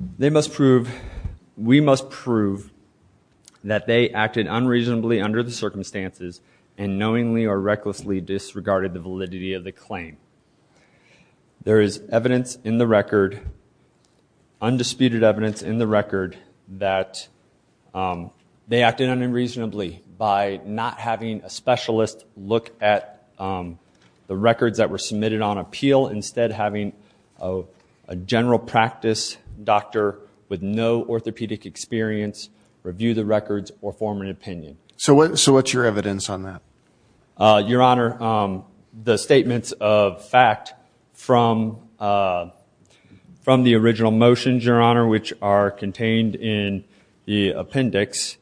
19-1047 Sandoval v. UNUM Life Insurance 19-1047 Sandoval v. UNUM Life Insurance 19-1047 Sandoval v. UNUM Life Insurance 19-1047 Sandoval v. UNUM Life Insurance 19-1047 Sandoval v. UNUM Life Insurance 19-1047 Sandoval v. UNUM Life Insurance 19-1047 We must prove that they acted unreasonably under the circumstances and knowingly or recklessly disregarded the validity of the claim. There is evidence in the record, undisputed evidence in the record, that they acted unreasonably by not having a specialist look at the records that were submitted on appeal, instead having a general practice doctor with no orthopedic experience review the records or form an opinion. So what's your evidence on that? Your Honor, the statements of fact from the original motions, Your Honor, which are contained in the appendix,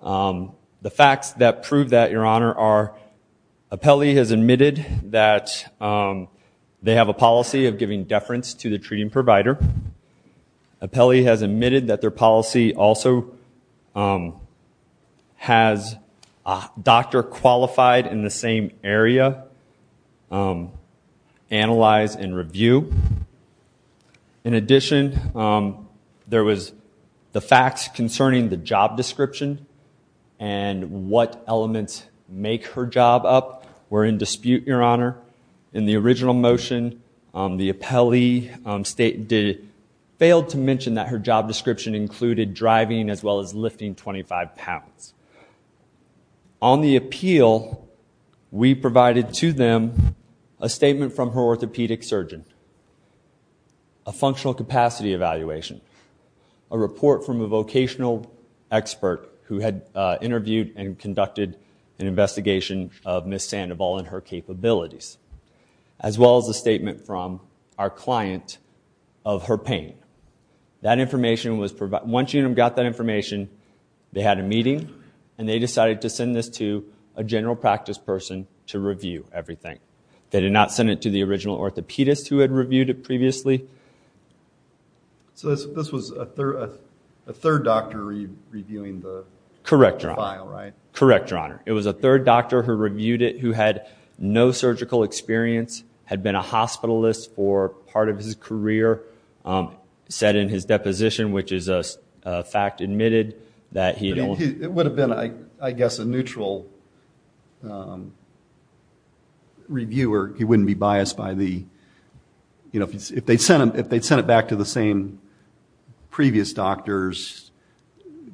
the facts that prove that, Your Honor, are They have a policy of giving deference to the treating provider. Appellee has admitted that their policy also has a doctor qualified in the same area analyze and review. In addition, there was the facts concerning the job description and what elements make her job up were in dispute, Your Honor. In the original motion, the appellee failed to mention that her job description included driving as well as lifting 25 pounds. On the appeal, we provided to them a statement from her orthopedic surgeon, a functional capacity evaluation, a report from a vocational expert who had interviewed and conducted an investigation of Ms. Sandoval and her capabilities, as well as a statement from our client of her pain. Once you got that information, they had a meeting and they decided to send this to a general practice person to review everything. They did not send it to the original orthopedist who had reviewed it previously. So this was a third doctor reviewing the file, right? Correct, Your Honor. It was a third doctor who reviewed it who had no surgical experience, had been a hospitalist for part of his career, said in his deposition, which is a fact admitted, that he... It would have been, I guess, a neutral reviewer. He wouldn't be biased by the... If they'd sent it back to the same previous doctors,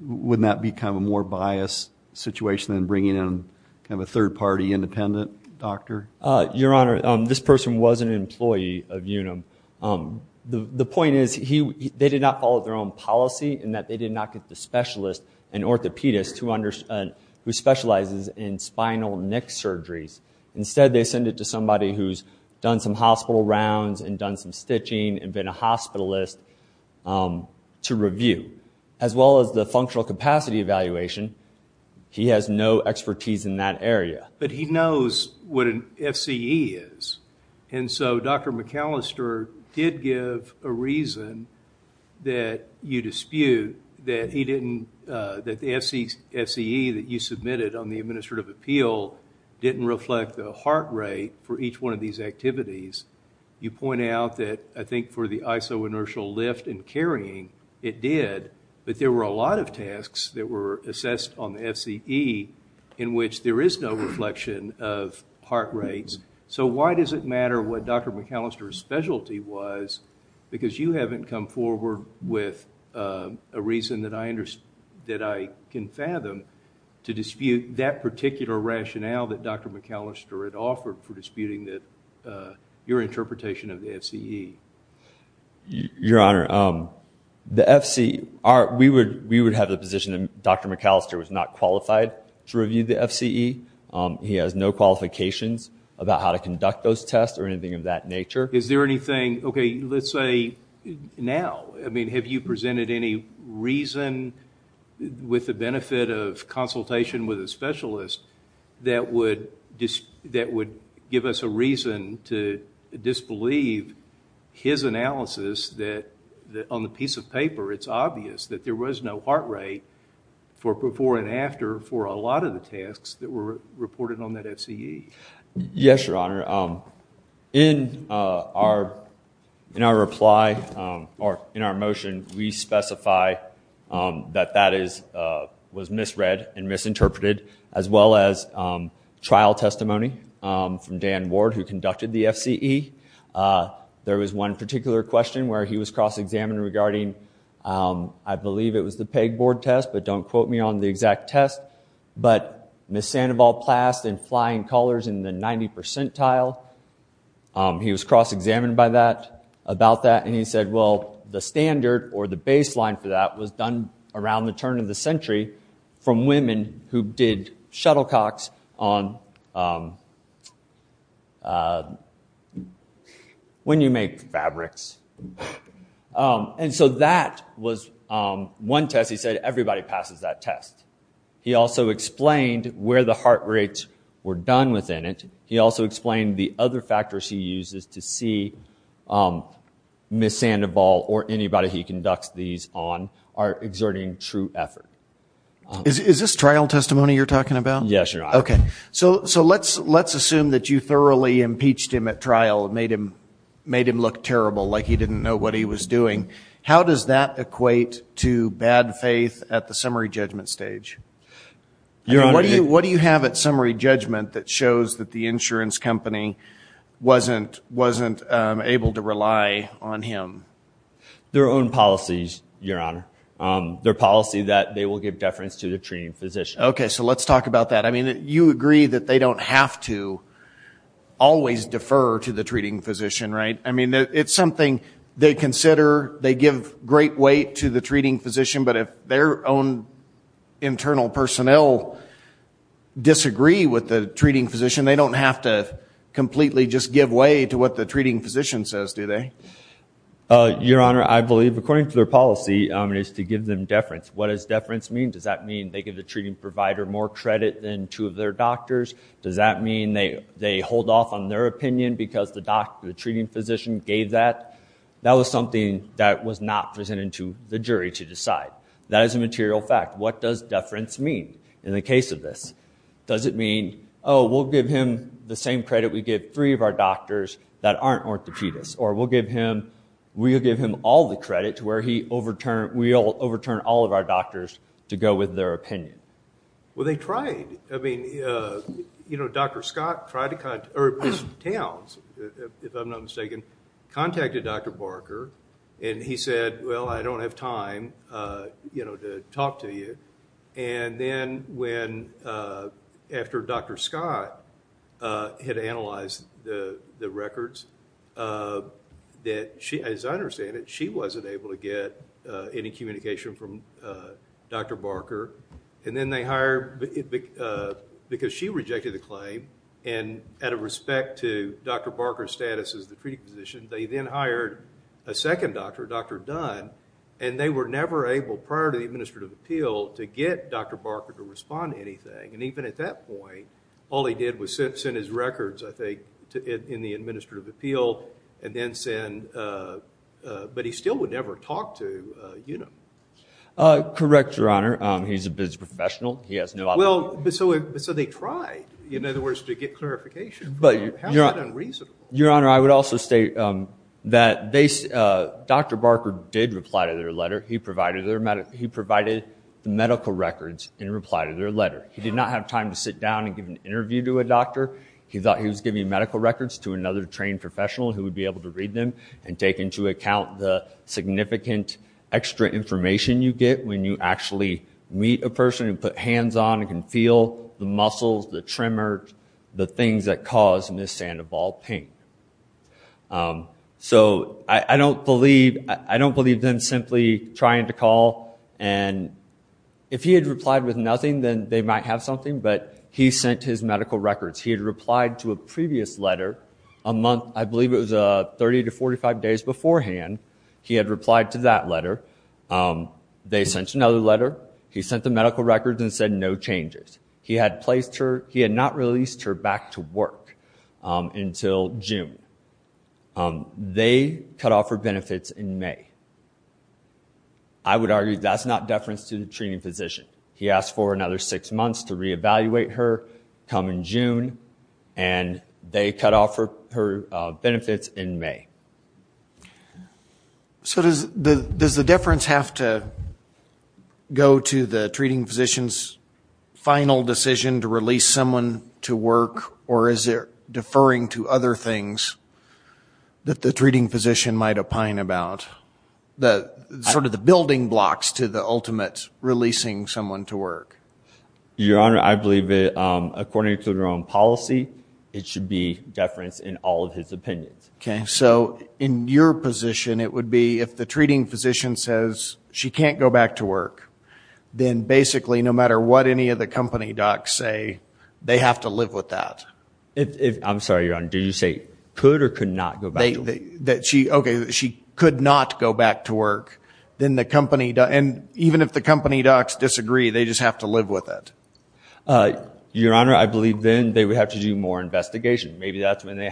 wouldn't that become a more biased situation than bringing in a third-party independent doctor? Your Honor, this person was an employee of UNUM. The point is they did not follow their own policy in that they did not get the specialist, an orthopedist, who specializes in spinal neck surgeries. Instead, they send it to somebody who's done some hospital rounds and done some stitching and been a hospitalist to review. As well as the functional capacity evaluation, he has no expertise in that area. But he knows what an FCE is. And so Dr. McAllister did give a reason that you dispute that he didn't... reflect the heart rate for each one of these activities. You point out that, I think, for the isoinertial lift and carrying, it did. But there were a lot of tasks that were assessed on the FCE in which there is no reflection of heart rates. So why does it matter what Dr. McAllister's specialty was? Because you haven't come forward with a reason that I can fathom to dispute that particular rationale that Dr. McAllister had offered for disputing your interpretation of the FCE. Your Honor, the FCE... We would have the position that Dr. McAllister was not qualified to review the FCE. He has no qualifications about how to conduct those tests or anything of that nature. Is there anything... Okay, let's say now. I mean, have you presented any reason with the benefit of consultation with a specialist that would give us a reason to disbelieve his analysis that on the piece of paper, it's obvious that there was no heart rate for before and after for a lot of the tasks that were reported on that FCE? Yes, Your Honor. In our reply, or in our motion, we specify that that was misread and misinterpreted, as well as trial testimony from Dan Ward, who conducted the FCE. There was one particular question where he was cross-examined regarding, I believe it was the PEG board test, but don't quote me on the exact test, but Ms. Sandoval plast and flying colors in the 90 percentile. He was cross-examined by that, about that, and he said, well, the standard or the baseline for that was done around the turn of the century from women who did shuttlecocks on when you make fabrics. And so that was one test. He said, everybody passes that test. He also explained where the heart rates were done within it. He also explained the other factors he uses to see Ms. Sandoval or anybody he conducts these on are exerting true effort. Is this trial testimony you're talking about? Yes, Your Honor. Okay. So let's assume that you thoroughly impeached him at trial and made him look terrible, like he didn't know what he was doing. How does that equate to bad faith at the summary judgment stage? What do you have at summary judgment that shows that the insurance company wasn't able to rely on him? Their own policies, Your Honor. Their policy that they will give deference to the treating physician. Okay. So let's talk about that. I mean, you agree that they don't have to always defer to the treating physician, right? I mean, it's something they consider, they give great weight to the treating physician, but if their own internal personnel disagree with the treating physician, they don't have to completely just give way to what the treating physician says, do they? Your Honor, I believe, according to their policy, is to give them deference. What does deference mean? Does that mean they give the treating provider more credit than two of their doctors? Does that mean they hold off on their opinion because the treating physician gave that? That was something that was not presented to the jury to decide. That is a material fact. What does deference mean in the case of this? Does it mean, oh, we'll give him the same credit we give three of our doctors that aren't orthopedists, or we'll give him all the credit to where we'll overturn all of our doctors to go with their opinion? Well, they tried. I mean, you know, Dr. Scott tried to contact, or Towns, if I'm not mistaken, contacted Dr. Barker, and he said, well, I don't have time, you know, to talk to you. And then when, after Dr. Scott had analyzed the records, that she, as I understand it, she wasn't able to get any communication from Dr. Barker. And then they hired, because she rejected the claim, and out of respect to Dr. Barker's status as the treating physician, they then hired a second doctor, Dr. Dunn, and they were never able, prior to the administrative appeal, to get Dr. Barker to respond to anything. And even at that point, all they did was send his records, I think, in the administrative appeal, and then send, but he still would never talk to, you know. Correct, Your Honor. He's a business professional. He has no obligation. Well, but so they tried, in other words, to get clarification. How is that unreasonable? Your Honor, I would also state that Dr. Barker did reply to their letter. He provided medical records in reply to their letter. He did not have time to sit down and give an interview to a doctor. He thought he was giving medical records to another trained professional who would be able to read them and take into account the significant extra information you get when you actually meet a person and put hands on and can feel the muscles, the tremors, the things that cause Ms. Sandoval pain. So I don't believe them simply trying to call. And if he had replied with nothing, then they might have something, but he sent his medical records. He had replied to a previous letter a month, I believe it was 30 to 45 days beforehand. He had replied to that letter. They sent another letter. He sent the medical records and said no changes. He had placed her. He had not released her back to work until June. They cut off her benefits in May. I would argue that's not deference to the training physician. He asked for another six months to reevaluate her, come in June, and they cut off her benefits in May. So does the deference have to go to the treating physician's final decision to release someone to work, or is it deferring to other things that the treating physician might opine about, sort of the building blocks to the ultimate releasing someone to work? Your Honor, I believe that according to their own policy, it should be deference in all of his opinions. Okay. So in your position, it would be if the treating physician says she can't go back to work, then basically no matter what any of the company docs say, they have to live with that. I'm sorry, Your Honor. Did you say could or could not go back to work? Okay, she could not go back to work, and even if the company docs disagree, they just have to live with it. Your Honor, I believe then they would have to do more investigation. Maybe that's when they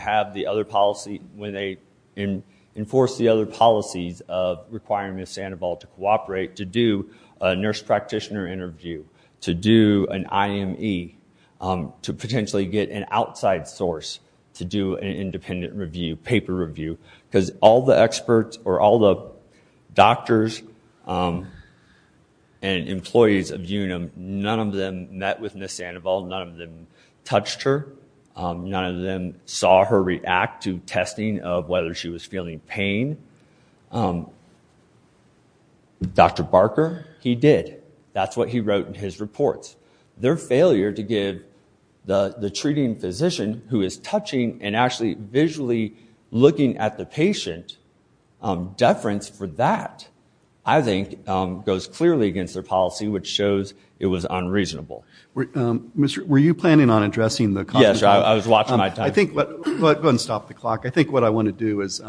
enforce the other policies of requiring Ms. Sandoval to cooperate, to do a nurse practitioner interview, to do an IME, to potentially get an outside source to do an independent review, paper review, because all the experts or all the doctors and employees of Unum, none of them met with Ms. Sandoval. None of them touched her. None of them saw her react to testing of whether she was feeling pain. Dr. Barker, he did. That's what he wrote in his reports. Their failure to give the treating physician, who is touching and actually visually looking at the patient, deference for that, I think, goes clearly against their policy, which shows it was unreasonable. Were you planning on addressing the company docs? Yes, I was watching my time. Go ahead and stop the clock. I think what I want to do is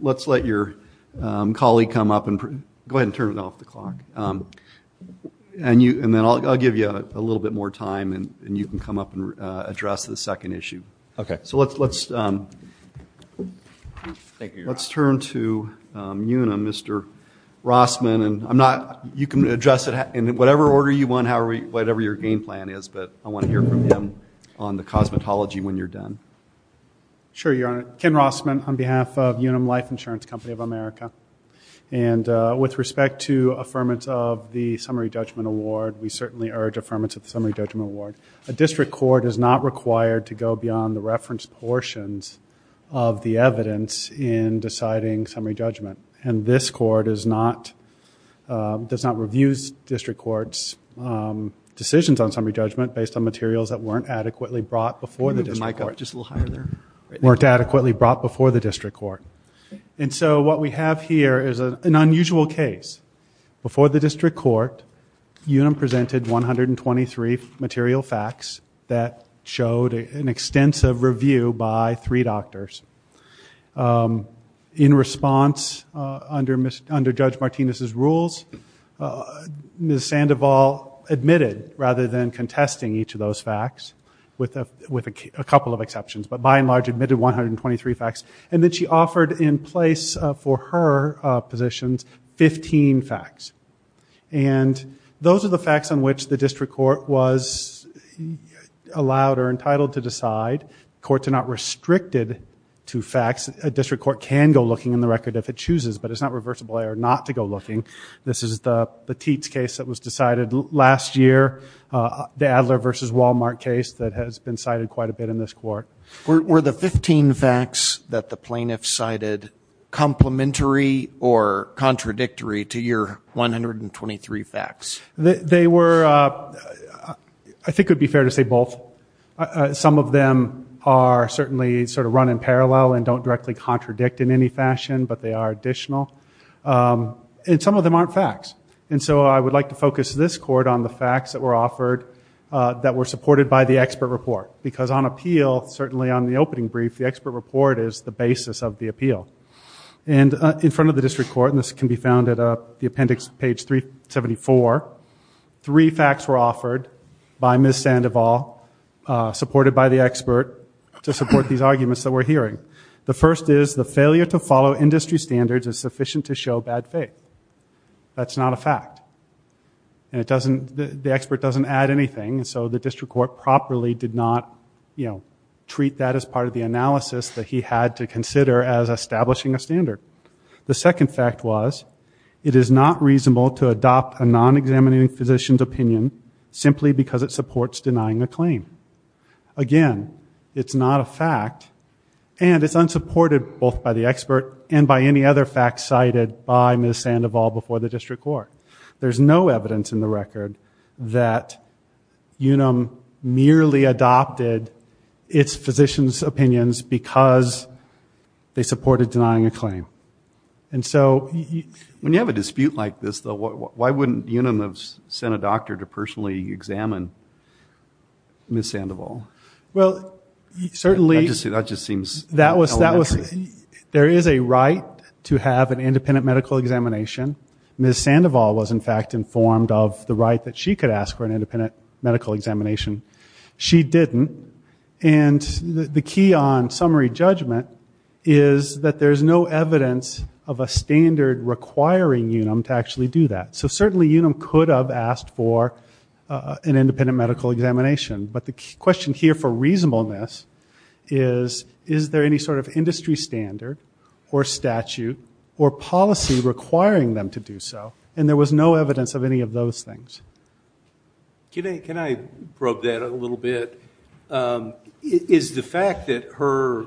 let's let your colleague come up and go ahead and turn it off the clock. And then I'll give you a little bit more time, and you can come up and address the second issue. Okay. So let's turn to Unum, Mr. Rossman. You can address it in whatever order you want, whatever your game plan is, but I want to hear from him on the cosmetology when you're done. Sure, Your Honor. Ken Rossman on behalf of Unum Life Insurance Company of America. And with respect to affirmance of the Summary Judgment Award, we certainly urge affirmance of the Summary Judgment Award. A district court is not required to go beyond the reference portions of the evidence in deciding summary judgment. And this court does not review district courts' decisions on summary judgment based on materials that weren't adequately brought before the district court. Move the mic up just a little higher there. Weren't adequately brought before the district court. And so what we have here is an unusual case. Before the district court, Unum presented 123 material facts that showed an extensive review by three doctors. In response, under Judge Martinez's rules, Ms. Sandoval admitted, rather than contesting each of those facts, with a couple of exceptions, but by and large admitted 123 facts. And then she offered in place for her positions 15 facts. And those are the facts on which the district court was allowed or entitled to decide. Courts are not restricted to facts. A district court can go looking in the record if it chooses, but it's not reversible error not to go looking. This is the Petit's case that was decided last year, the Adler versus Wal-Mart case that has been cited quite a bit in this court. Were the 15 facts that the plaintiff cited complementary or contradictory to your 123 facts? They were, I think it would be fair to say both. Some of them are certainly sort of run in parallel and don't directly contradict in any fashion, but they are additional. And some of them aren't facts. And so I would like to focus this court on the facts that were offered that were supported by the expert report. Because on appeal, certainly on the opening brief, the expert report is the basis of the appeal. And in front of the district court, and this can be found at the appendix page 374, three facts were offered by Ms. Sandoval, supported by the expert, to support these arguments that we're hearing. The first is the failure to follow industry standards is sufficient to show bad faith. That's not a fact. And the expert doesn't add anything, so the district court properly did not, you know, treat that as part of the analysis that he had to consider as establishing a standard. The second fact was it is not reasonable to adopt a non-examining physician's opinion simply because it supports denying a claim. Again, it's not a fact. And it's unsupported both by the expert and by any other facts cited by Ms. Sandoval before the district court. There's no evidence in the record that Unum merely adopted its physician's opinions because they supported denying a claim. And so... When you have a dispute like this, though, why wouldn't Unum have sent a doctor to personally examine Ms. Sandoval? Well, certainly... That just seems... There is a right to have an independent medical examination. Ms. Sandoval was, in fact, informed of the right that she could ask for an independent medical examination. She didn't. And the key on summary judgment is that there's no evidence of a standard requiring Unum to actually do that. So certainly Unum could have asked for an independent medical examination. But the question here for reasonableness is, is there any sort of industry standard or statute or policy requiring them to do so? And there was no evidence of any of those things. Can I probe that a little bit? Is the fact that her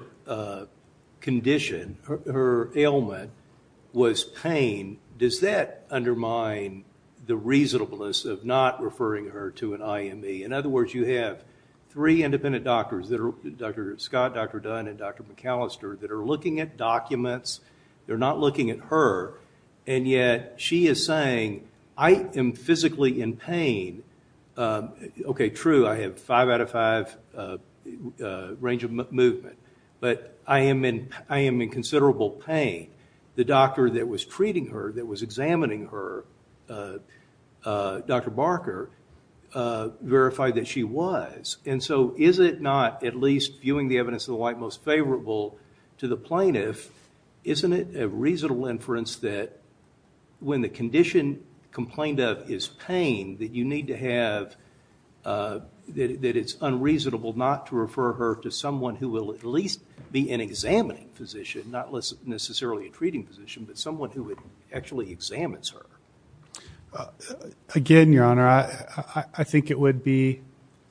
condition, her ailment, was pain, does that undermine the reasonableness of not referring her to an IME? In other words, you have three independent doctors, Dr. Scott, Dr. Dunn, and Dr. McAllister, that are looking at documents. They're not looking at her. And yet she is saying, I am physically in pain. Okay, true, I have five out of five range of movement. But I am in considerable pain. The doctor that was treating her, that was examining her, Dr. Barker, verified that she was. And so is it not at least viewing the evidence of the like most favorable to the plaintiff, isn't it a reasonable inference that when the condition complained of is pain, that you need to have, that it's unreasonable not to refer her to someone who will at least be an examining physician, not necessarily a treating physician, but someone who actually examines her? Again, Your Honor, I think it would be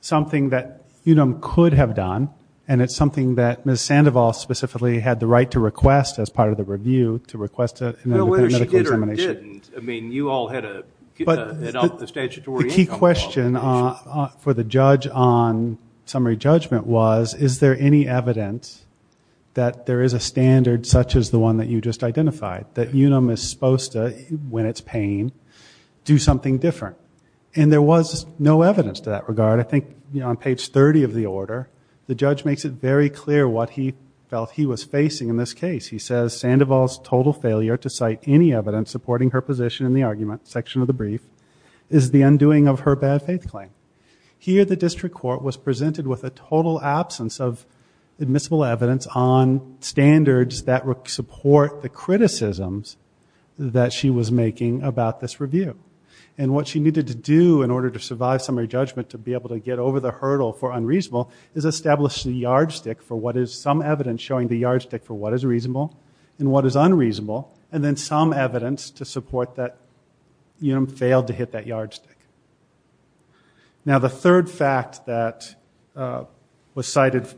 something that UNUM could have done, and it's something that Ms. Sandoval specifically had the right to request as part of the review, to request an independent medical examination. Whether she did or didn't, I mean, you all had to get it off the statutory agenda. The key question for the judge on summary judgment was, is there any evidence that there is a standard such as the one that you just identified, that UNUM is supposed to, when it's pain, do something different? And there was no evidence to that regard. I think on page 30 of the order, the judge makes it very clear what he felt he was facing in this case. He says, Sandoval's total failure to cite any evidence supporting her position in the argument section of the brief is the undoing of her bad faith claim. Here the district court was presented with a total absence of admissible evidence on standards that support the criticisms that she was making about this review. And what she needed to do in order to survive summary judgment, to be able to get over the hurdle for unreasonable, is establish the yardstick for what is some evidence showing the yardstick for what is reasonable and what is unreasonable, and then some evidence to support that UNUM failed to hit that yardstick. Now the third fact that was cited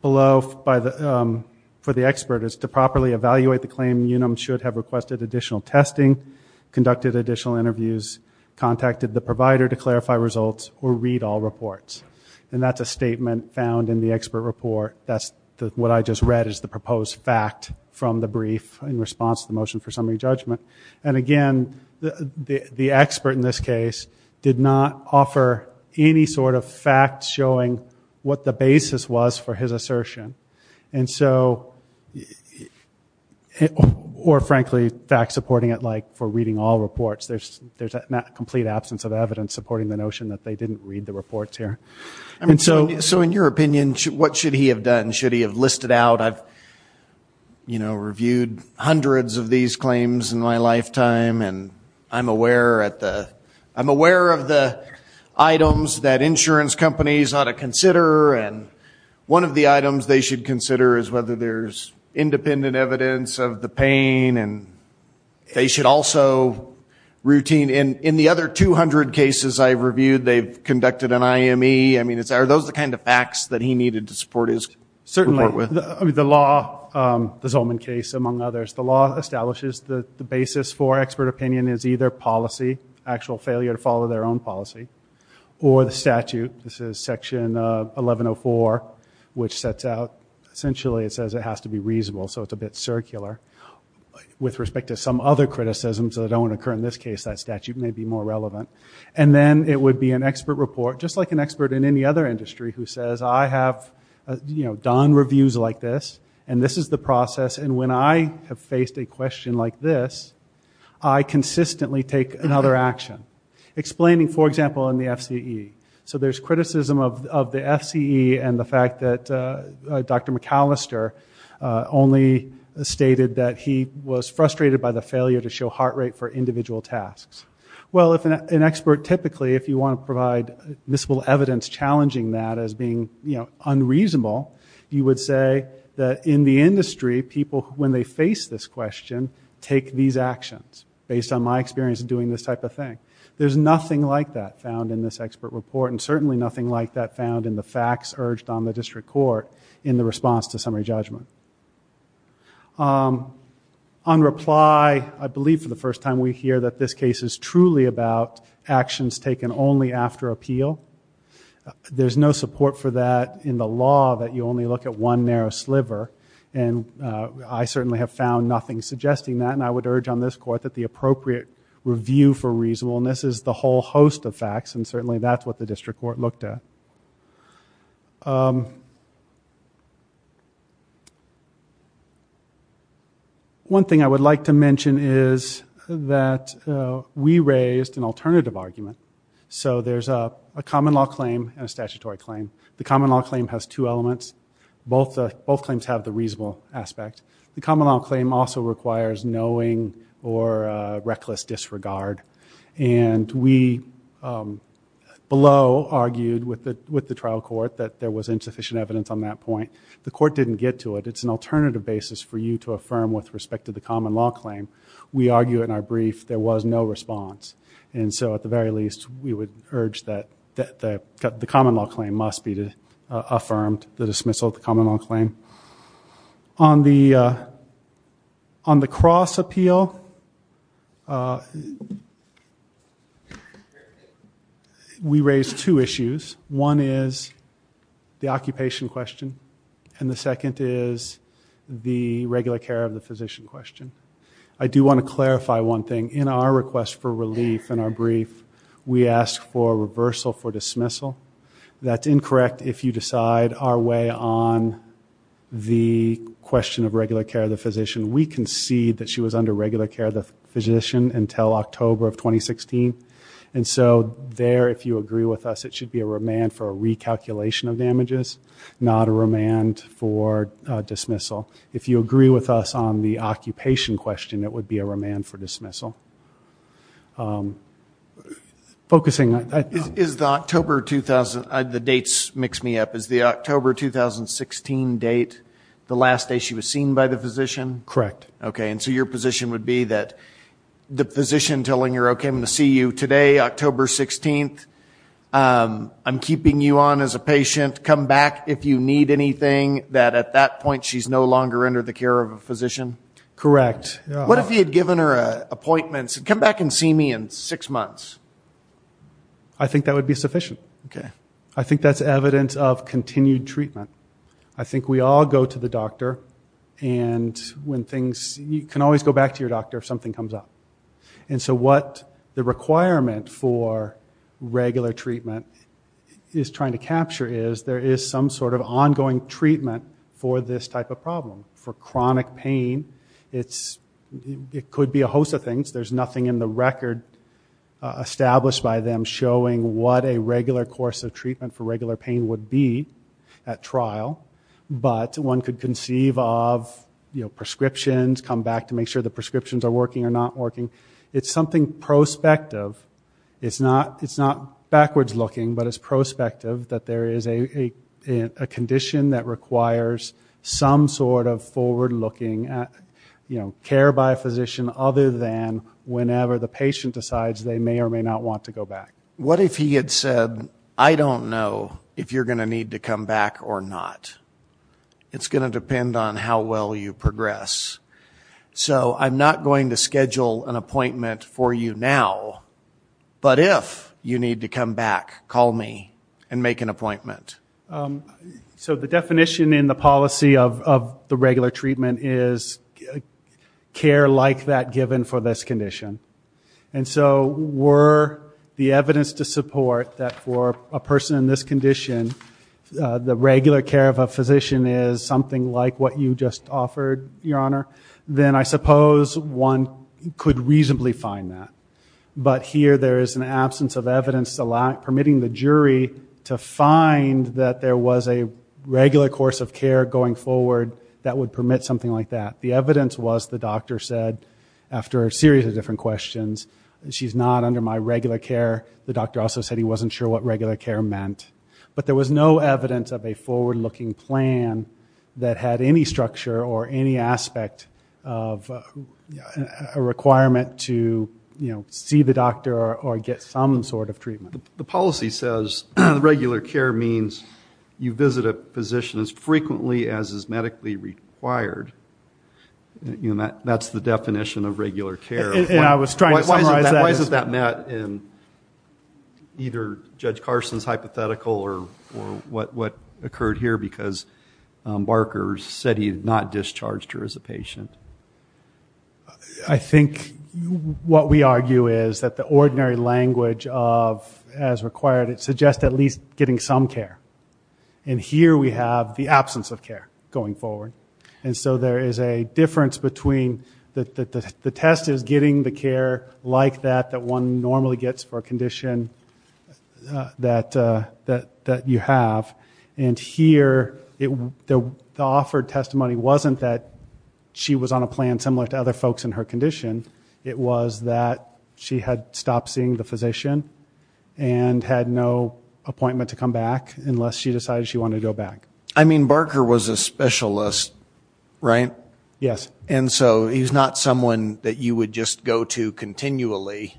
below for the expert is to properly evaluate the claim UNUM should have requested additional testing, conducted additional interviews, contacted the provider to clarify results, or read all reports. And that's a statement found in the expert report. That's what I just read is the proposed fact from the brief in response to the motion for summary judgment. And again, the expert in this case did not offer any sort of fact showing what the basis was for his assertion. And so, or frankly, fact supporting it like for reading all reports. There's a complete absence of evidence supporting the notion that they didn't read the reports here. So in your opinion, what should he have done? Should he have listed out, you know, reviewed hundreds of these claims in my lifetime, and I'm aware of the items that insurance companies ought to consider, and one of the items they should consider is whether there's independent evidence of the pain, and they should also routine. In the other 200 cases I've reviewed, they've conducted an IME. I mean, are those the kind of facts that he needed to support his report with? The law, the Zolman case among others, the law establishes that the basis for expert opinion is either policy, actual failure to follow their own policy, or the statute. This is section 1104, which sets out, essentially it says it has to be reasonable, so it's a bit circular. With respect to some other criticisms that don't occur in this case, that statute may be more relevant. And then it would be an expert report, just like an expert in any other industry, who says, I have, you know, done reviews like this, and this is the process, and when I have faced a question like this, I consistently take another action. Explaining, for example, in the FCE. So there's criticism of the FCE and the fact that Dr. McAllister only stated that he was frustrated by the failure to show heart rate for individual tasks. Well, if an expert typically, if you want to provide visible evidence challenging that as being unreasonable, you would say that in the industry, people, when they face this question, take these actions, based on my experience of doing this type of thing. There's nothing like that found in this expert report, and certainly nothing like that found in the facts urged on the district court in the response to summary judgment. On reply, I believe for the first time we hear that this case is truly about actions taken only after appeal. There's no support for that in the law, that you only look at one narrow sliver, and I certainly have found nothing suggesting that, and I would urge on this court that the appropriate review for reasonableness is the whole host of facts, and certainly that's what the district court looked at. One thing I would like to mention is that we raised an alternative argument. So there's a common law claim and a statutory claim. The common law claim has two elements. Both claims have the reasonable aspect. The common law claim also requires knowing or reckless disregard, and we below argued with the trial court that there was insufficient evidence on that point. The court didn't get to it. It's an alternative basis for you to affirm with respect to the common law claim. We argue in our brief there was no response, and so at the very least we would urge that the common law claim must be affirmed, the dismissal of the common law claim. On the cross appeal, we raised two issues. One is the occupation question, and the second is the regular care of the physician question. I do want to clarify one thing. In our request for relief in our brief, we asked for reversal for dismissal. That's incorrect if you decide our way on the question of regular care of the physician. We concede that she was under regular care of the physician until October of 2016, and so there, if you agree with us, it should be a remand for a recalculation of damages, not a remand for dismissal. If you agree with us on the occupation question, it would be a remand for dismissal. Focusing on that. Is the October 2016 date the last day she was seen by the physician? Correct. Okay, and so your position would be that the physician telling her, okay, I'm going to see you today, October 16th, I'm keeping you on as a patient, come back if you need anything, that at that point she's no longer under the care of a physician? Correct. What if he had given her appointments, come back and see me in six months? I think that would be sufficient. Okay. I think that's evidence of continued treatment. I think we all go to the doctor, and when things, you can always go back to your doctor if something comes up. And so what the requirement for regular treatment is trying to capture is there is some sort of ongoing treatment for this type of problem. For chronic pain, it could be a host of things. There's nothing in the record established by them showing what a regular course of treatment for regular pain would be at trial. But one could conceive of prescriptions, come back to make sure the prescriptions are working or not working. It's something prospective. It's not backwards looking, but it's prospective that there is a condition that requires some sort of forward-looking care by a physician other than whenever the patient decides they may or may not want to go back. What if he had said, I don't know if you're going to need to come back or not? It's going to depend on how well you progress. So I'm not going to schedule an appointment for you now, but if you need to come back, call me and make an appointment. So the definition in the policy of the regular treatment is care like that given for this condition. And so were the evidence to support that for a person in this condition, the regular care of a physician is something like what you just offered, Your Honor, then I suppose one could reasonably find that. But here there is an absence of evidence permitting the jury to find that there was a regular course of care going forward that would permit something like that. The evidence was the doctor said, after a series of different questions, she's not under my regular care. The doctor also said he wasn't sure what regular care meant. But there was no evidence of a forward-looking plan that had any structure or any aspect of a requirement to see the doctor or get some sort of treatment. The policy says regular care means you visit a physician as frequently as is medically required. That's the definition of regular care. And I was trying to summarize that. Why isn't that met in either Judge Carson's hypothetical or what occurred here? Because Barker said he had not discharged her as a patient. I think what we argue is that the ordinary language of, as required, it suggests at least getting some care. And here we have the absence of care going forward. And so there is a difference between the test is getting the care like that that one normally gets for a condition that you have. And here the offered testimony wasn't that she was on a plan similar to other folks in her condition. It was that she had stopped seeing the physician and had no appointment to come back unless she decided she wanted to go back. I mean, Barker was a specialist, right? Yes. And so he's not someone that you would just go to continually.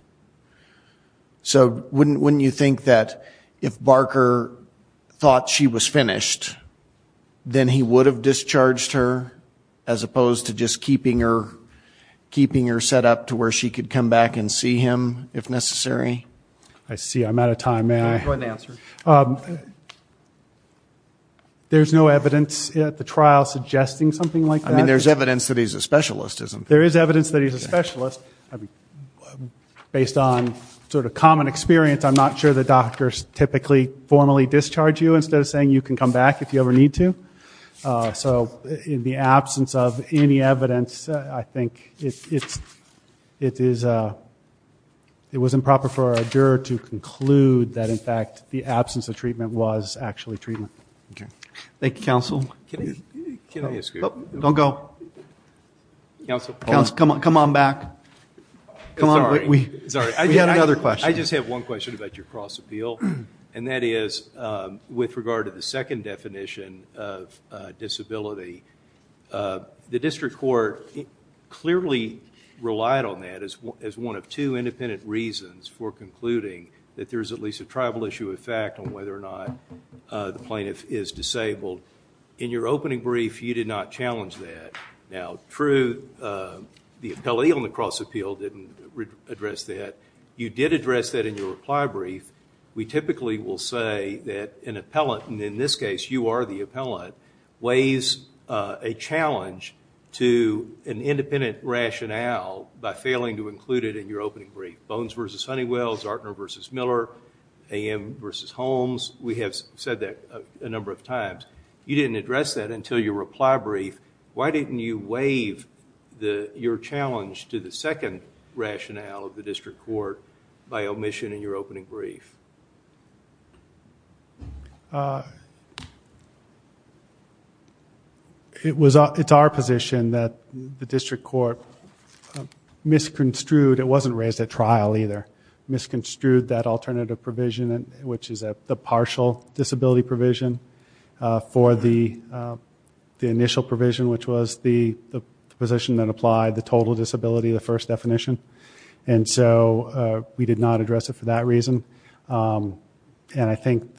So wouldn't you think that if Barker thought she was finished, then he would have discharged her as opposed to just keeping her set up to where she could come back and see him if necessary? I see. I'm out of time. May I? Go ahead and answer. There's no evidence at the trial suggesting something like that? I mean, there's evidence that he's a specialist, isn't there? There is evidence that he's a specialist. Based on sort of common experience, I'm not sure that doctors typically formally discharge you instead of saying you can come back if you ever need to. So in the absence of any evidence, I think it was improper for a juror to conclude that, in fact, the absence of treatment was actually treatment. Thank you, counsel. Don't go. Counsel, come on back. Sorry, we have another question. I just have one question about your cross-appeal, and that is with regard to the second definition of disability. The district court clearly relied on that as one of two independent reasons for concluding that there's at least a tribal issue of fact on whether or not the plaintiff is disabled. In your opening brief, you did not challenge that. Now, true, the appellee on the cross-appeal didn't address that. You did address that in your reply brief. We typically will say that an appellant, and in this case you are the appellant, weighs a challenge to an independent rationale by failing to include it in your opening brief. Bones v. Honeywell, Zartner v. Miller, A.M. v. Holmes, we have said that a number of times. You didn't address that until your reply brief. Why didn't you waive your challenge to the second rationale of the district court by omission in your opening brief? It's our position that the district court misconstrued. It wasn't raised at trial either. We misconstrued that alternative provision, which is the partial disability provision, for the initial provision, which was the position that applied the total disability, the first definition. And so we did not address it for that reason. And I think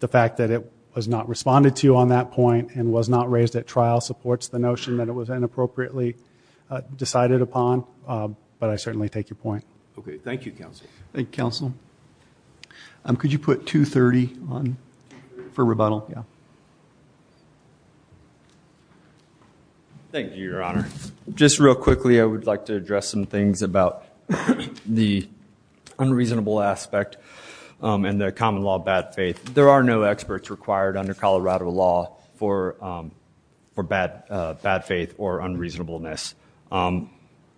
the fact that it was not responded to on that point and was not raised at trial supports the notion that it was inappropriately decided upon, but I certainly take your point. Okay, thank you, Counsel. Thank you, Counsel. Could you put 230 for rebuttal? Thank you, Your Honor. Just real quickly, I would like to address some things about the unreasonable aspect and the common law bad faith. There are no experts required under Colorado law for bad faith or unreasonableness.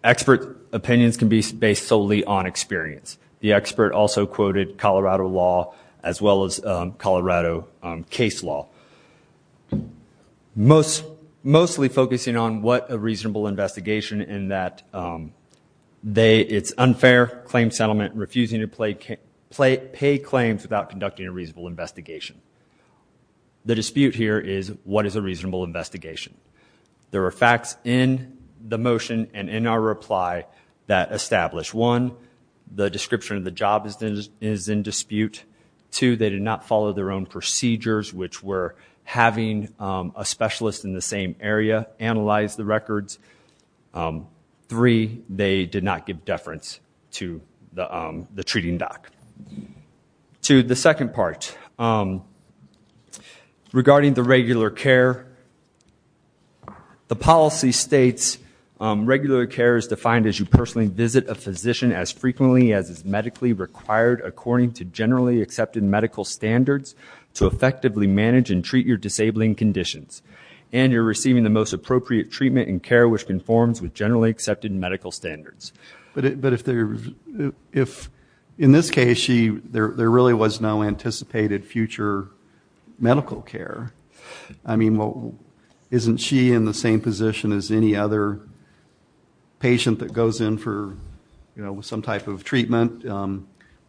Expert opinions can be based solely on experience. The expert also quoted Colorado law as well as Colorado case law, mostly focusing on what a reasonable investigation in that it's unfair claim settlement, refusing to pay claims without conducting a reasonable investigation. The dispute here is what is a reasonable investigation? There are facts in the motion and in our reply that establish, one, the description of the job is in dispute. Two, they did not follow their own procedures, which were having a specialist in the same area analyze the records. Three, they did not give deference to the treating doc. To the second part, regarding the regular care, the policy states regular care is defined as you personally visit a physician as frequently as is medically required according to generally accepted medical standards to effectively manage and treat your disabling conditions. And you're receiving the most appropriate treatment and care, which conforms with generally accepted medical standards. But in this case, there really was no anticipated future medical care. I mean, isn't she in the same position as any other patient that goes in for some type of treatment?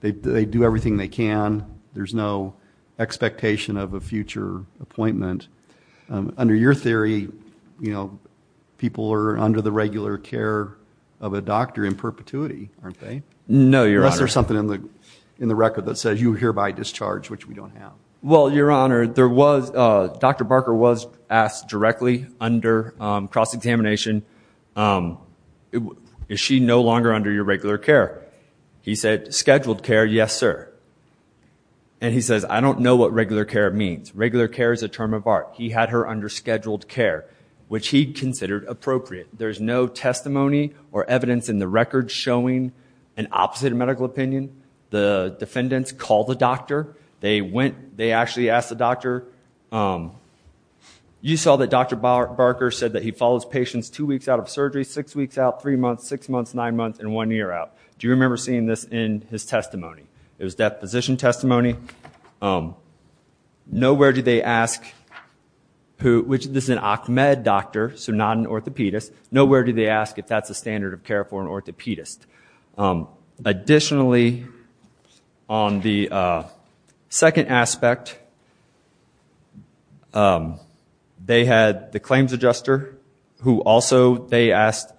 They do everything they can. There's no expectation of a future appointment. Under your theory, people are under the regular care of a doctor in perpetuity, aren't they? No, Your Honor. Unless there's something in the record that says you hereby discharge, which we don't have. Well, Your Honor, Dr. Barker was asked directly under cross-examination, is she no longer under your regular care? He said, scheduled care, yes, sir. And he says, I don't know what regular care means. Regular care is a term of art. He had her under scheduled care, which he considered appropriate. There's no testimony or evidence in the record showing an opposite medical opinion. The defendants called the doctor. They actually asked the doctor, you saw that Dr. Barker said that he follows patients two weeks out of surgery, six weeks out, three months, six months, nine months, and one year out. Do you remember seeing this in his testimony? It was death physician testimony. Nowhere do they ask, which this is an OCMED doctor, so not an orthopedist. Nowhere do they ask if that's a standard of care for an orthopedist. Additionally, on the second aspect, they had the claims adjuster, who also they asked,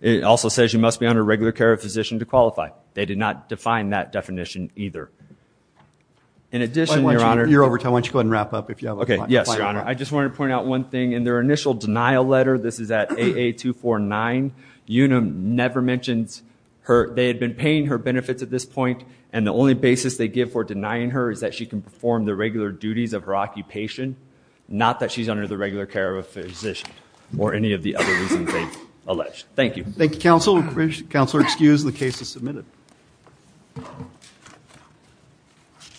it also says you must be under regular care of a physician to qualify. They did not define that definition either. In addition, Your Honor. You're over time. Why don't you go ahead and wrap up. Okay, yes, Your Honor. I just wanted to point out one thing. In their initial denial letter, this is at AA249, Una never mentions they had been paying her benefits at this point, and the only basis they give for denying her is that she can perform the regular duties of her occupation, not that she's under the regular care of a physician or any of the other reasons they allege. Thank you. Thank you, Counsel. Counsel, excused. The case is submitted.